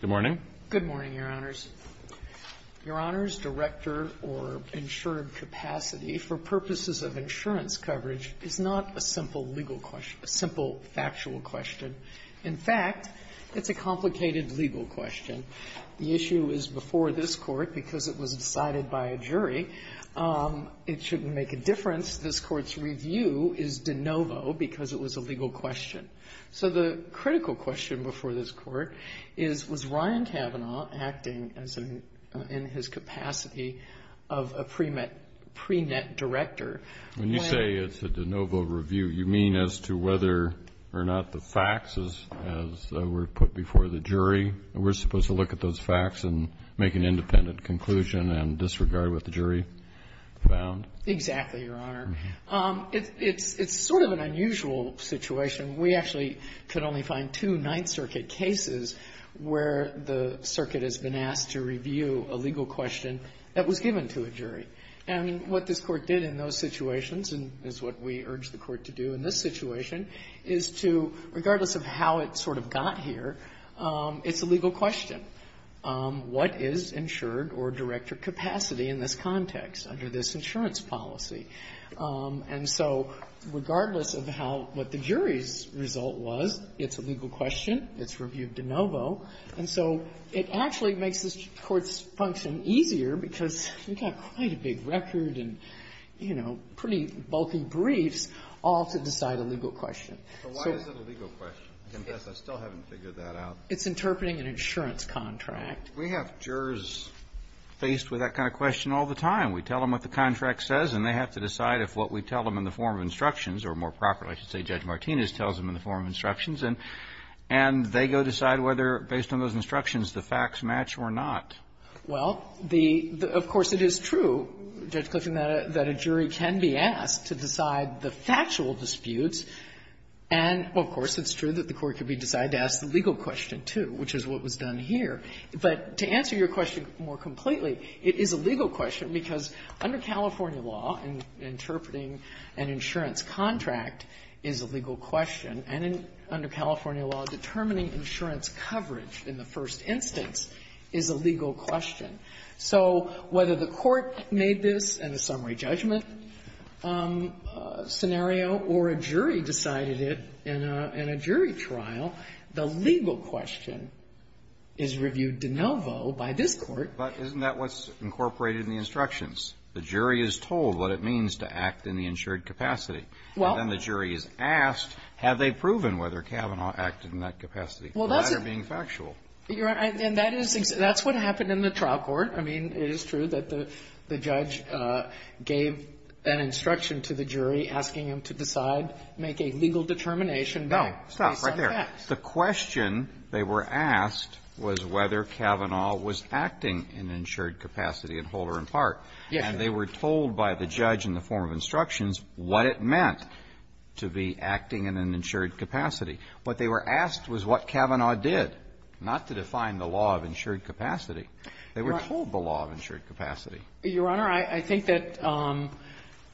Good morning, Your Honors. Your Honors, director or insured capacity for purposes of insurance coverage is not a simple legal question, a simple factual question. In fact, it's a complicated legal question. The issue is before this Court, because it was decided by a jury, it shouldn't make a difference. And thus, this Court's review is de novo because it was a legal question. So the critical question before this Court is, was Ryan Kavanaugh acting in his capacity of a pre-net director? When you say it's a de novo review, you mean as to whether or not the facts, as were put before the jury, we're supposed to look at those facts and make an independent conclusion and disregard what the jury found? NORTHWESTERN PACIFIC INDEMNITY Exactly, Your Honor. It's sort of an unusual situation. We actually could only find two Ninth Circuit cases where the circuit has been asked to review a legal question that was given to a jury. And what this Court did in those situations, and is what we urge the Court to do in this situation, is to, regardless of how it sort of got here, it's a legal question. What is insured or director capacity in this context under this insurance policy? And so regardless of how, what the jury's result was, it's a legal question. It's reviewed de novo. And so it actually makes this Court's function easier because you've got quite a big record and, you know, pretty bulky briefs all to decide a legal question. So why is it a legal question? I confess I still haven't figured that out. It's interpreting an insurance contract. Kennedy. We have jurors faced with that kind of question all the time. We tell them what the contract says, and they have to decide if what we tell them in the form of instructions, or more properly, I should say, Judge Martinez tells them in the form of instructions. And they go decide whether, based on those instructions, the facts match or not. Well, the of course it is true, Judge Kliffin, that a jury can be asked to decide the factual disputes. And, of course, it's true that the Court can be decided to ask the legal question, too, which is what was done here. But to answer your question more completely, it is a legal question because under California law, interpreting an insurance contract is a legal question, and under California law, determining insurance coverage in the first instance is a legal question. So whether the Court made this in a summary judgment scenario or a jury made this in a jury trial, the legal question is reviewed de novo by this Court. But isn't that what's incorporated in the instructions? The jury is told what it means to act in the insured capacity. Well. And then the jury is asked, have they proven whether Kavanaugh acted in that capacity? Well, that's a being factual. And that is what happened in the trial court. I mean, it is true that the judge gave an instruction to the jury asking him to decide whether or not to make a legal determination. No. Stop right there. The question they were asked was whether Kavanaugh was acting in an insured capacity at whole or in part. Yes. And they were told by the judge in the form of instructions what it meant to be acting in an insured capacity. What they were asked was what Kavanaugh did, not to define the law of insured capacity. They were told the law of insured capacity. Your Honor, I think that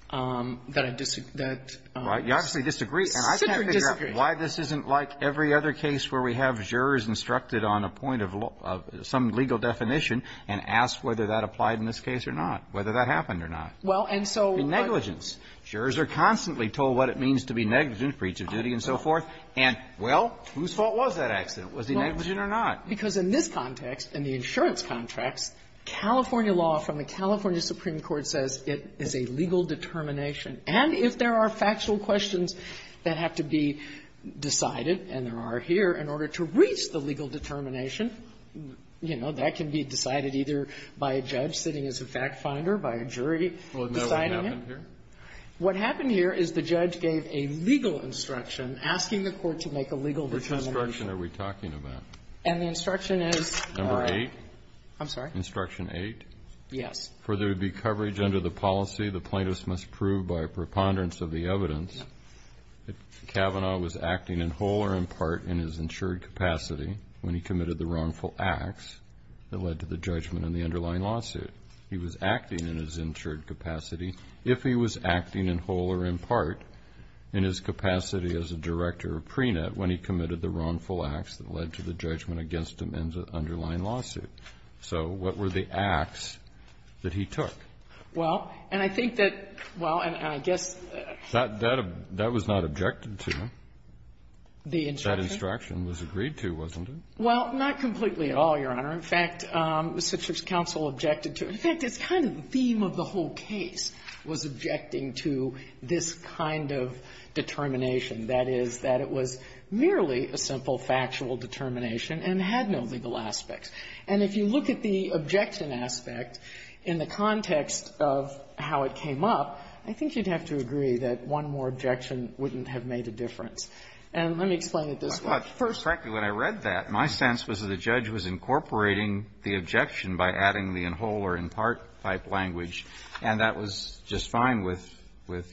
I disagree. You obviously disagree. And I can't figure out why this isn't like every other case where we have jurors instructed on a point of some legal definition and asked whether that applied in this case or not, whether that happened or not. Well, and so what the jury is told is negligence. Jurors are constantly told what it means to be negligent, breach of duty and so forth. And, well, whose fault was that accident? Was he negligent or not? Because in this context, in the insurance contracts, California law from the California Supreme Court says it is a legal determination, and if there are factual questions that have to be decided, and there are here, in order to reach the legal determination, you know, that can be decided either by a judge sitting as a fact finder, by a jury deciding it. Well, isn't that what happened here? What happened here is the judge gave a legal instruction asking the Court to make a legal determination. Which instruction are we talking about? And the instruction is the right one. Number 8? I'm sorry? Instruction 8? Yes. For there to be coverage under the policy, the plaintiff must prove by a preponderance of the evidence that Kavanaugh was acting in whole or in part in his insured capacity when he committed the wrongful acts that led to the judgment in the underlying lawsuit. He was acting in his insured capacity if he was acting in whole or in part in his capacity as a director of PRENA when he committed the wrongful acts that led to the judgment against him in the underlying lawsuit. So what were the acts that he took? Well, and I think that well, and I guess that was not objected to. The instruction? That instruction was agreed to, wasn't it? Well, not completely at all, Your Honor. In fact, the Citrus Council objected to it. In fact, it's kind of the theme of the whole case, was objecting to this kind of determination. That is, that it was merely a simple factual determination and had no legal aspects. And if you look at the objection aspect in the context of how it came up, I think you'd have to agree that one more objection wouldn't have made a difference. And let me explain it this way. First of all, frankly, when I read that, my sense was that the judge was incorporating the objection by adding the in whole or in part type language, and that was just fine with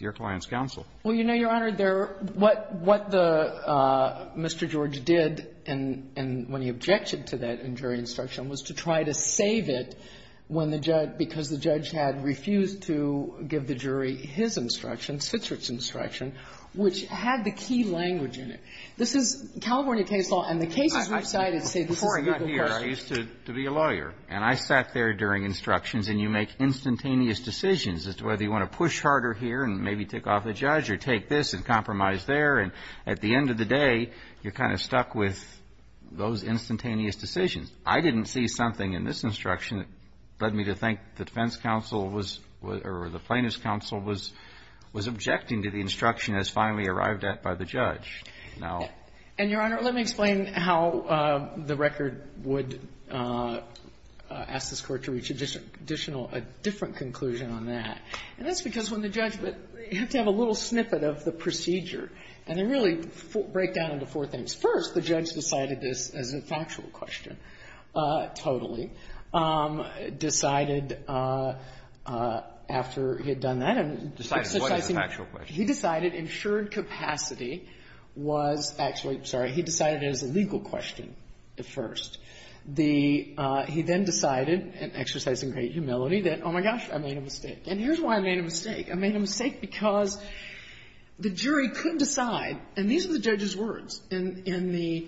your client's counsel. Well, you know, Your Honor, there are what the Mr. George did and when he objected to that jury instruction was to try to save it when the judge, because the judge had refused to give the jury his instruction, Citrus' instruction, which had the key language in it. This is California case law, and the cases we've cited say this is a legal question. Before I got here, I used to be a lawyer, and I sat there during instructions, and you make instantaneous decisions as to whether you want to push harder here and maybe take off the judge or take this and compromise there. And at the end of the day, you're kind of stuck with those instantaneous decisions. I didn't see something in this instruction that led me to think the defense counsel was or the plaintiff's counsel was objecting to the instruction as finally arrived at by the judge. Now ---- And, Your Honor, let me explain how the record would ask this Court to reach additional or a different conclusion on that. And that's because when the judge ---- you have to have a little snippet of the procedure. And they really break down into four things. First, the judge decided this as a factual question, totally, decided after he had done that and exercising ---- Decided what is a factual question? He decided insured capacity was actually ---- I'm sorry. He decided it as a legal question at first. The ---- he then decided, exercising great humility, that, oh, my gosh, I made a mistake. And here's why I made a mistake. I made a mistake because the jury couldn't decide, and these were the judge's words, in the ----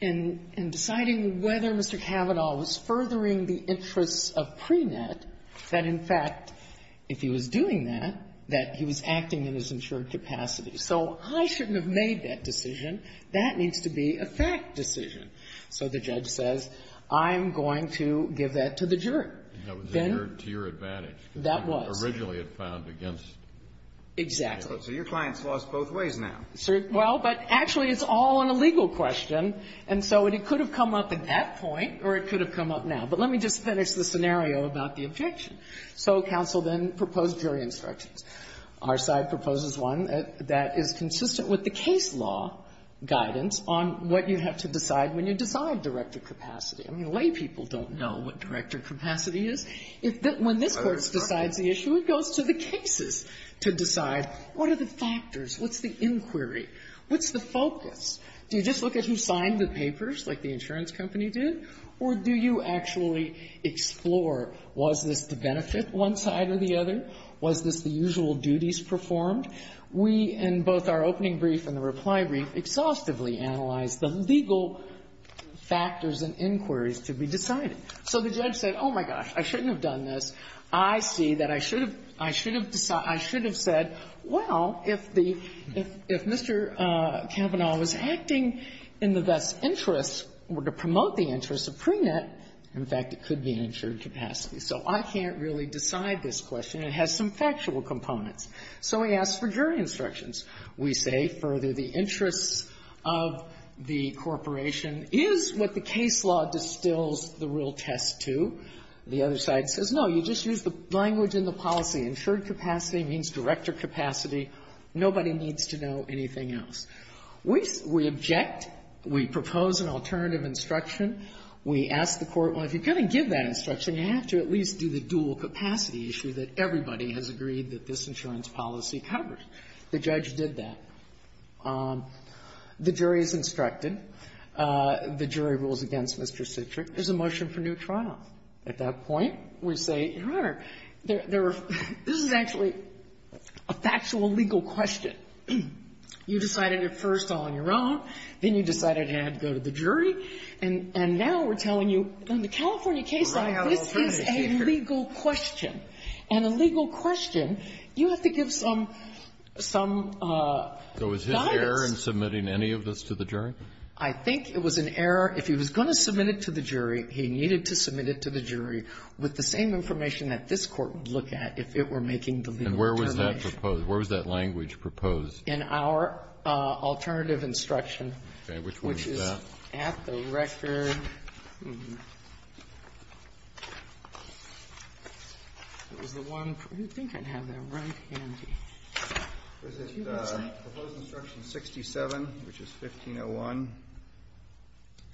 in deciding whether Mr. Kavanaugh was furthering the interests of Preenet, that, in fact, if he was doing that, that he was acting in his insured capacity. So I shouldn't have made that decision. That needs to be a fact decision. So the judge says, I'm going to give that to the jury. Then ---- And that was to your advantage. That was. Originally, it found against ---- Exactly. So your client's lost both ways now. Well, but actually, it's all on a legal question, and so it could have come up at that point or it could have come up now. But let me just finish the scenario about the objection. So counsel then proposed jury instructions. Our side proposes one that is consistent with the case law guidance on what you have to decide when you decide director capacity. I mean, laypeople don't know what director capacity is. When this Court decides the issue, it goes to the cases to decide what are the factors, what's the inquiry, what's the focus. Do you just look at who signed the papers, like the insurance company did, or do you actually explore was this to benefit one side or the other, was this the usual duties performed? We, in both our opening brief and the reply brief, exhaustively analyzed the legal factors and inquiries to be decided. So the judge said, oh, my gosh, I shouldn't have done this. I see that I should have said, well, if Mr. Kavanaugh was acting in the best interest or to promote the interest of pre-net, in fact, it could be an insured capacity. So I can't really decide this question. It has some factual components. So he asked for jury instructions. We say, further, the interest of the corporation is what the case law distills the real test to. The other side says, no, you just use the language in the policy. Insured capacity means director capacity. Nobody needs to know anything else. We object. We propose an alternative instruction. We ask the Court, well, if you're going to give that instruction, you have to at least do the dual-capacity issue that everybody has agreed that this insurance policy covers. The judge did that. The jury is instructed. The jury rules against Mr. Citrick. There's a motion for new trials. At that point, we say, Your Honor, there are – this is actually a factual legal question. You decided it first all on your own. Then you decided you had to go to the jury. And now we're telling you, in the California case law, this is a legal question. And a legal question, you have to give some guidance. So is his error in submitting any of this to the jury? I think it was an error. If he was going to submit it to the jury, he needed to submit it to the jury with the same information that this Court would look at if it were making the legal determination. And where was that proposed? Where was that language proposed? In our alternative instruction. Okay. Which one is that? Which is at the record. It was the one – I think I have that right handy. It was the proposed instruction 67, which is 1501.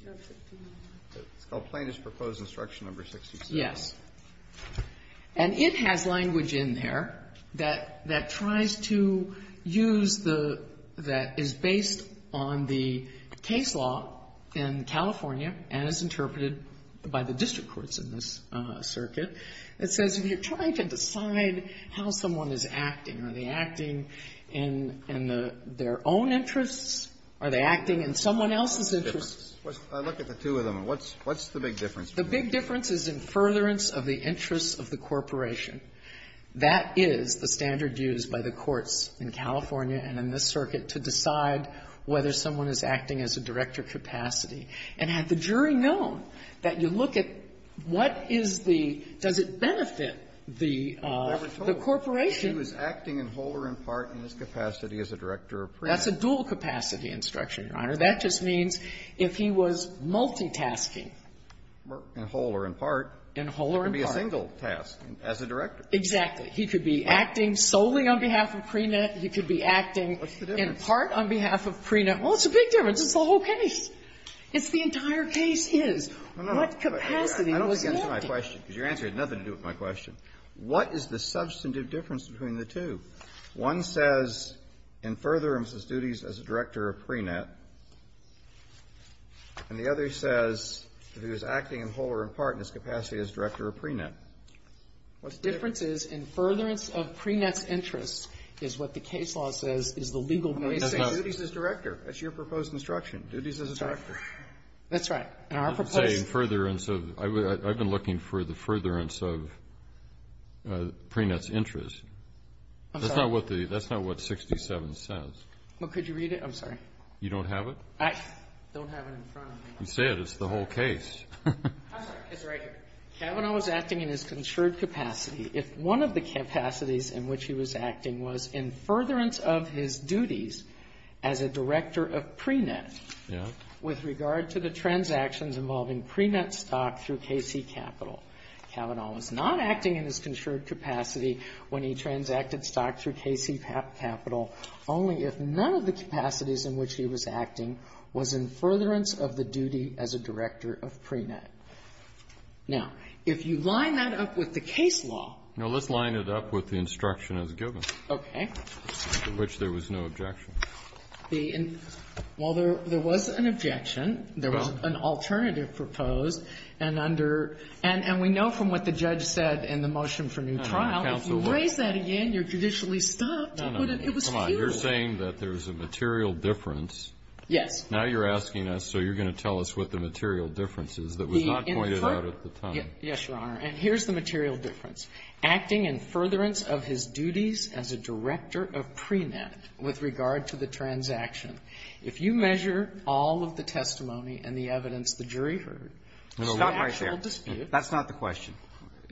It's called Plaintiff's Proposed Instruction No. 67. Yes. And it has language in there that tries to use the – that is based on the case law in California and is interpreted by the district courts in this circuit. It says if you're trying to decide how someone is acting, are they acting in their own interests? Are they acting in someone else's interests? I look at the two of them. What's the big difference? The big difference is in furtherance of the interests of the corporation. That is the standard used by the courts in California and in this circuit to decide whether someone is acting as a director capacity. And had the jury known that you look at what is the – does it benefit the corporation That's a dual-capacity instruction, Your Honor. That just means if he was multitasking in whole or in part, it could be a single task as a director. Exactly. He could be acting solely on behalf of pre-net. He could be acting in part on behalf of pre-net. Well, it's a big difference. It's the whole case. It's the entire case is. What capacity was he acting? I don't think that's my question, because your answer had nothing to do with my question. What is the substantive difference between the two? One says in furtherance of duties as a director of pre-net, and the other says that he was acting in whole or in part in his capacity as director of pre-net. What's the difference? The difference is in furtherance of pre-net's interests is what the case law says is the legal basis. I'm going to say duties as director. That's your proposed instruction, duties as a director. That's right. And our proposed – I'm not saying furtherance of – I've been looking for the furtherance of pre-net's interests. I'm sorry. That's not what the – that's not what 67 says. Well, could you read it? I'm sorry. You don't have it? I don't have it in front of me. You say it. It's the whole case. I'm sorry. It's right here. Kavanaugh was acting in his considered capacity if one of the capacities in which he was acting was in furtherance of his duties as a director of pre-net with regard to the transactions involving pre-net stock through KC Capital. Kavanaugh was not acting in his considered capacity when he transacted stock through KC Capital, only if none of the capacities in which he was acting was in furtherance of the duty as a director of pre-net. Now, if you line that up with the case law – No, let's line it up with the instruction as given. Okay. For which there was no objection. The – well, there was an objection. There was an alternative proposed. And under – and we know from what the judge said in the motion for new trial, if you raise that again, you're judicially stopped. No, no. It was futile. You're saying that there's a material difference. Yes. Now you're asking us, so you're going to tell us what the material difference is that was not pointed out at the time. Yes, Your Honor. And here's the material difference. Acting in furtherance of his duties as a director of pre-net with regard to the transaction. If you measure all of the testimony and the evidence the jury heard, the actual dispute – Stop right there. That's not the question.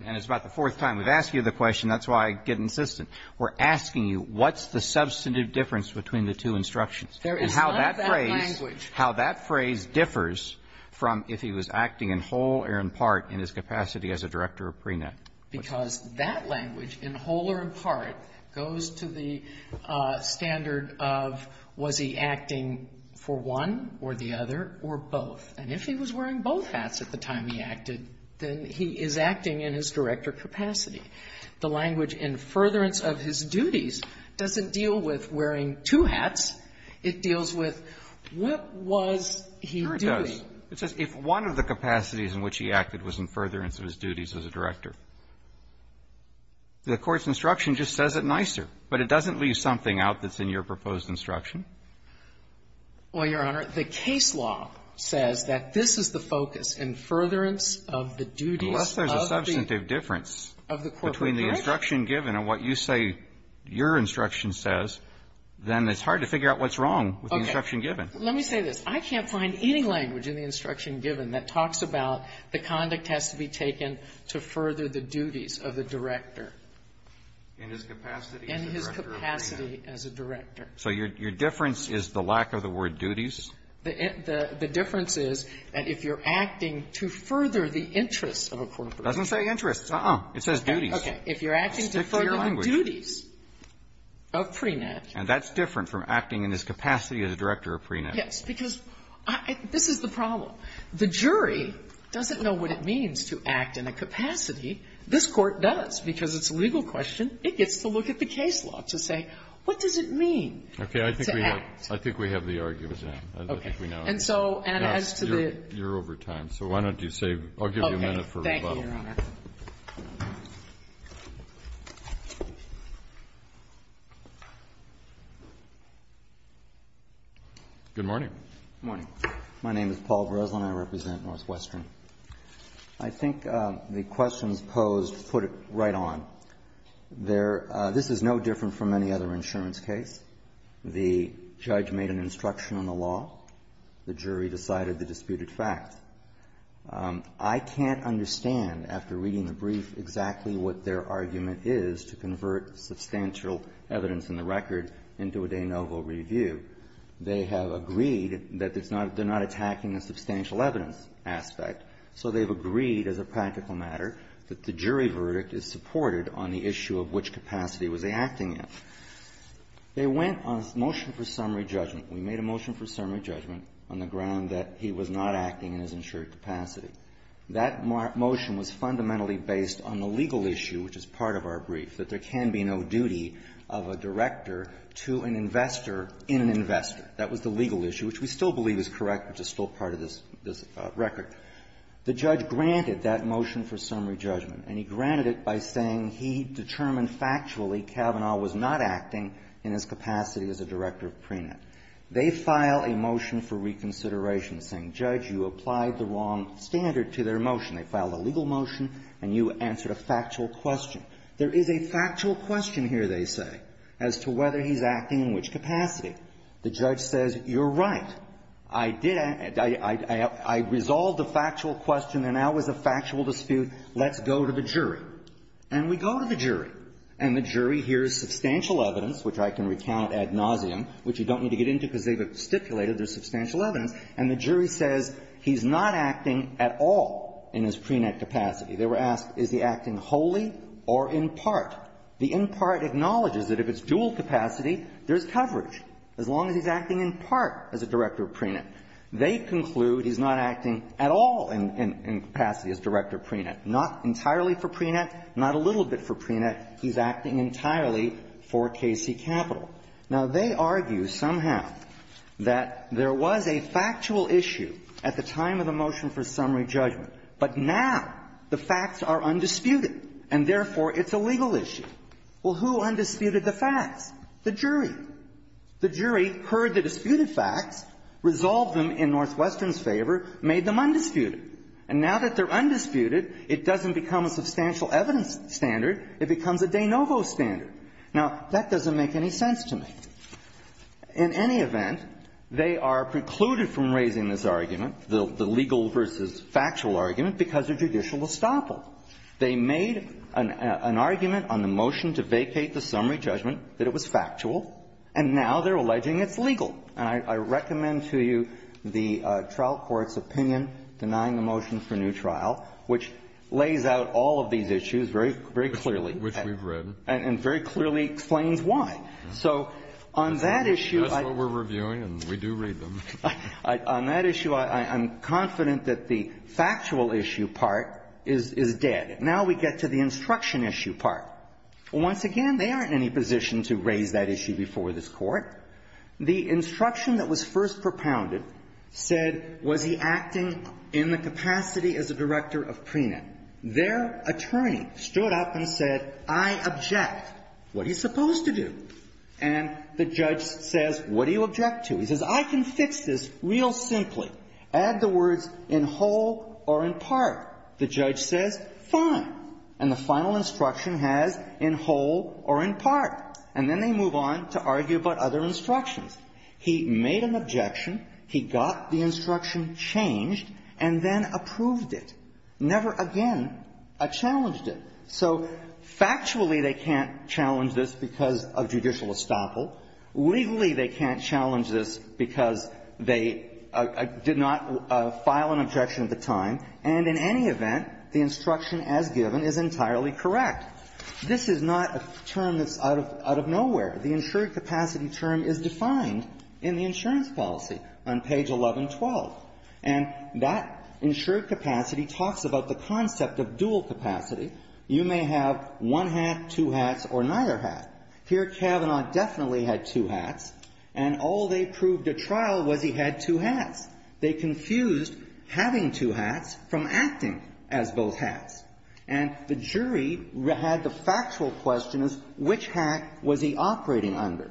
And it's about the fourth time we've asked you the question. That's why I get insistent. We're asking you what's the substantive difference between the two instructions. There is none of that language. How that phrase differs from if he was acting in whole or in part in his capacity as a director of pre-net. Because that language, in whole or in part, goes to the standard of was he acting for one or the other or both. And if he was wearing both hats at the time he acted, then he is acting in his director capacity. The language in furtherance of his duties doesn't deal with wearing two hats. It deals with what was he doing. Sure it does. It says if one of the capacities in which he acted was in furtherance of his duties as a director. The Court's instruction just says it nicer. But it doesn't leave something out that's in your proposed instruction. Well, Your Honor, the case law says that this is the focus in furtherance of the duties of the Court of Appeals. Unless there's a substantive difference between the instruction given and what you say your instruction says, then it's hard to figure out what's wrong with the instruction given. Okay. Let me say this. I can't find any language in the instruction given that talks about the conduct has to be taken to further the duties of the director. In his capacity as a director of PRINET. In his capacity as a director. So your difference is the lack of the word duties? The difference is that if you're acting to further the interests of a corporation It doesn't say interests. Uh-uh. It says duties. Okay. If you're acting to further the duties of PRINET. And that's different from acting in his capacity as a director of PRINET. Yes. Because this is the problem. The jury doesn't know what it means to act in a capacity. This Court does. Because it's a legal question, it gets to look at the case law to say, what does it mean to act? Okay. I think we have the argument now. Okay. And so, and as to the You're over time. So why don't you say, I'll give you a minute for rebuttal. Okay. Thank you, Your Honor. Good morning. Good morning. My name is Paul Breslin. I represent Northwestern. I think the questions posed put it right on. There, this is no different from any other insurance case. The judge made an instruction on the law. The jury decided the disputed fact. I can't understand, after reading the brief, exactly what their argument is to convert substantial evidence in the record into a de novo review. They have agreed that it's not, they're not attacking the substantial evidence aspect. So they've agreed, as a practical matter, that the jury verdict is supported on the issue of which capacity was they acting in. They went on a motion for summary judgment. We made a motion for summary judgment on the ground that he was not acting in his insured capacity. That motion was fundamentally based on the legal issue, which is part of our brief, that there can be no duty of a director to an investor in an investor. That was the legal issue, which we still believe is correct, which is still part of this record. The judge granted that motion for summary judgment, and he granted it by saying he determined factually Kavanaugh was not acting in his capacity as a director of PRENET. They file a motion for reconsideration, saying, Judge, you applied the wrong standard to their motion. They filed a legal motion, and you answered a factual question. There is a factual question here, they say, as to whether he's acting in which capacity. The judge says, you're right. I did act – I resolved the factual question, and that was a factual dispute. Let's go to the jury. And we go to the jury, and the jury hears substantial evidence, which I can recount ad nauseum, which you don't need to get into because they've stipulated there's substantial evidence, and the jury says he's not acting at all in his PRENET capacity. They were asked, is he acting wholly or in part? The in part acknowledges that if it's dual capacity, there's coverage, as long as he's acting in part as a director of PRENET. They conclude he's not acting at all in capacity as director of PRENET, not entirely for PRENET, not a little bit for PRENET. He's acting entirely for K.C. Capital. Now, they argue somehow that there was a factual issue at the time of the motion for summary judgment, but now the facts are undisputed, and, therefore, it's a legal issue. Well, who undisputed the facts? The jury. The jury heard the disputed facts, resolved them in Northwestern's favor, made them undisputed. And now that they're undisputed, it doesn't become a substantial evidence standard. It becomes a de novo standard. Now, that doesn't make any sense to me. In any event, they are precluded from raising this argument, the legal versus factual argument, because of judicial estoppel. They made an argument on the motion to vacate the summary judgment that it was factual, and now they're alleging it's legal. And I recommend to you the trial court's opinion denying the motion for new trial, which lays out all of these issues very clearly. Which we've read. And very clearly explains why. So on that issue, I am confident that the factual issue part is dead. Now we get to the instruction issue part. Once again, they aren't in any position to raise that issue before this Court. The instruction that was first propounded said, was he acting in the capacity as a director of prenup? Their attorney stood up and said, I object. What are you supposed to do? And the judge says, what do you object to? He says, I can fix this real simply. Add the words, in whole or in part. The judge says, fine. And the final instruction has, in whole or in part. And then they move on to argue about other instructions. He made an objection. He got the instruction changed and then approved it. Never again a challenged it. So factually, they can't challenge this because of judicial estoppel. Legally, they can't challenge this because they did not file an objection at the time. And in any event, the instruction as given is entirely correct. This is not a term that's out of nowhere. The insured capacity term is defined in the insurance policy on page 1112. And that insured capacity talks about the concept of dual capacity. You may have one hat, two hats, or neither hat. Here, Kavanaugh definitely had two hats, and all they proved at trial was he had two hats. They confused having two hats from acting as both hats. And the jury had the factual question as which hat was he operating under.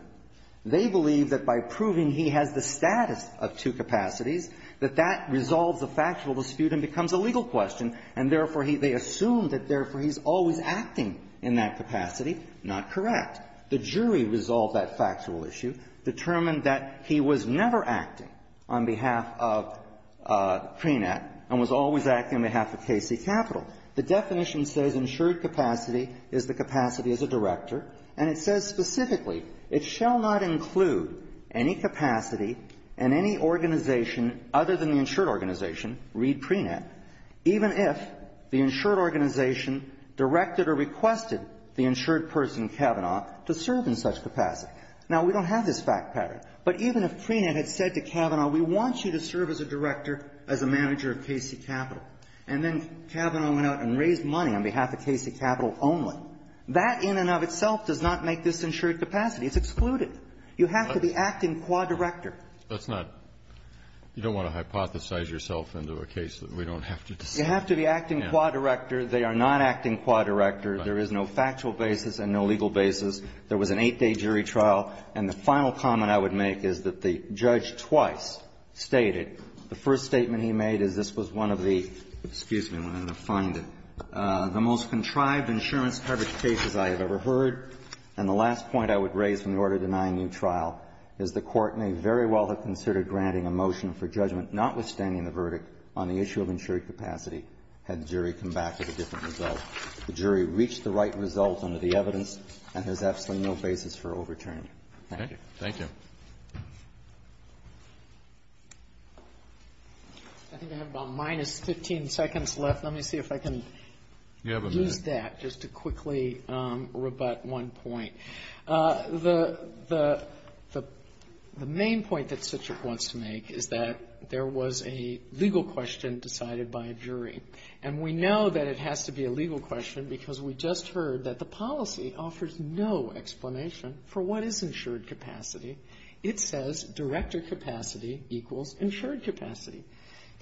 They believe that by proving he has the status of two capacities, that that resolves a factual dispute and becomes a legal question. And therefore, they assume that therefore, he's always acting in that capacity. Not correct. The jury resolved that factual issue, determined that he was never acting on behalf of Prenet and was always acting on behalf of KC Capital. The definition says insured capacity is the capacity as a director. And it says specifically, it shall not include any capacity in any organization other than the insured organization, read Prenet, even if the insured organization directed or requested the insured person Kavanaugh to serve in such capacity. Now, we don't have this fact pattern, but even if Prenet had said to Kavanaugh, we want you to serve as a director, as a manager of KC Capital, and then Kavanaugh went out and raised money on behalf of KC Capital only, that in and of itself does not make this insured capacity. It's excluded. You have to be acting qua director. That's not you don't want to hypothesize yourself into a case that we don't have to decide. You have to be acting qua director. They are not acting qua director. There is no factual basis and no legal basis. There was an eight-day jury trial. And the final comment I would make is that the judge twice stated, the first statement he made is this was one of the excuse me, I'm going to find it, the most contrived insurance coverage cases I have ever heard. And the last point I would raise in order to deny a new trial is the Court in a very well-considered granting a motion for judgment notwithstanding the verdict on the issue of insured capacity had the jury come back with a different result. The jury reached the right result under the evidence and there's absolutely no basis for overturning. Thank you. Thank you. I think I have about minus 15 seconds left. Let me see if I can use that just to quickly rebut one point. The main point that Cichik wants to make is that there was a legal question decided by a jury. And we know that it has to be a legal question because we just heard that the policy offers no explanation for what is insured capacity. It says director capacity equals insured capacity.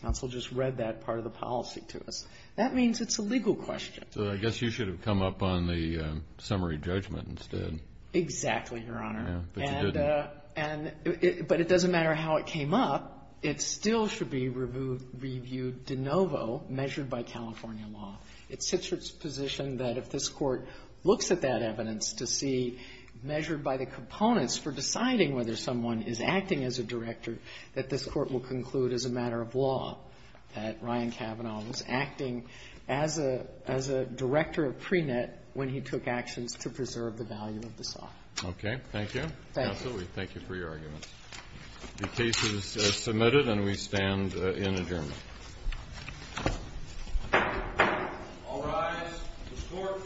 Counsel just read that part of the policy to us. That means it's a legal question. So I guess you should have come up on the summary judgment instead. Exactly, Your Honor. But you didn't. But it doesn't matter how it came up. It still should be reviewed de novo, measured by California law. It's Cichik's position that if this Court looks at that evidence to see, measured by the components for deciding whether someone is acting as a director, that this Court will conclude as a matter of law that Ryan Kavanaugh was acting as a director of pre-net when he took actions to preserve the value of the site. Okay. Thank you. Thank you. Counsel, we thank you for your arguments. The case is submitted and we stand in adjournment. I'll rise to the Court for discussion and adjournment. Thank you.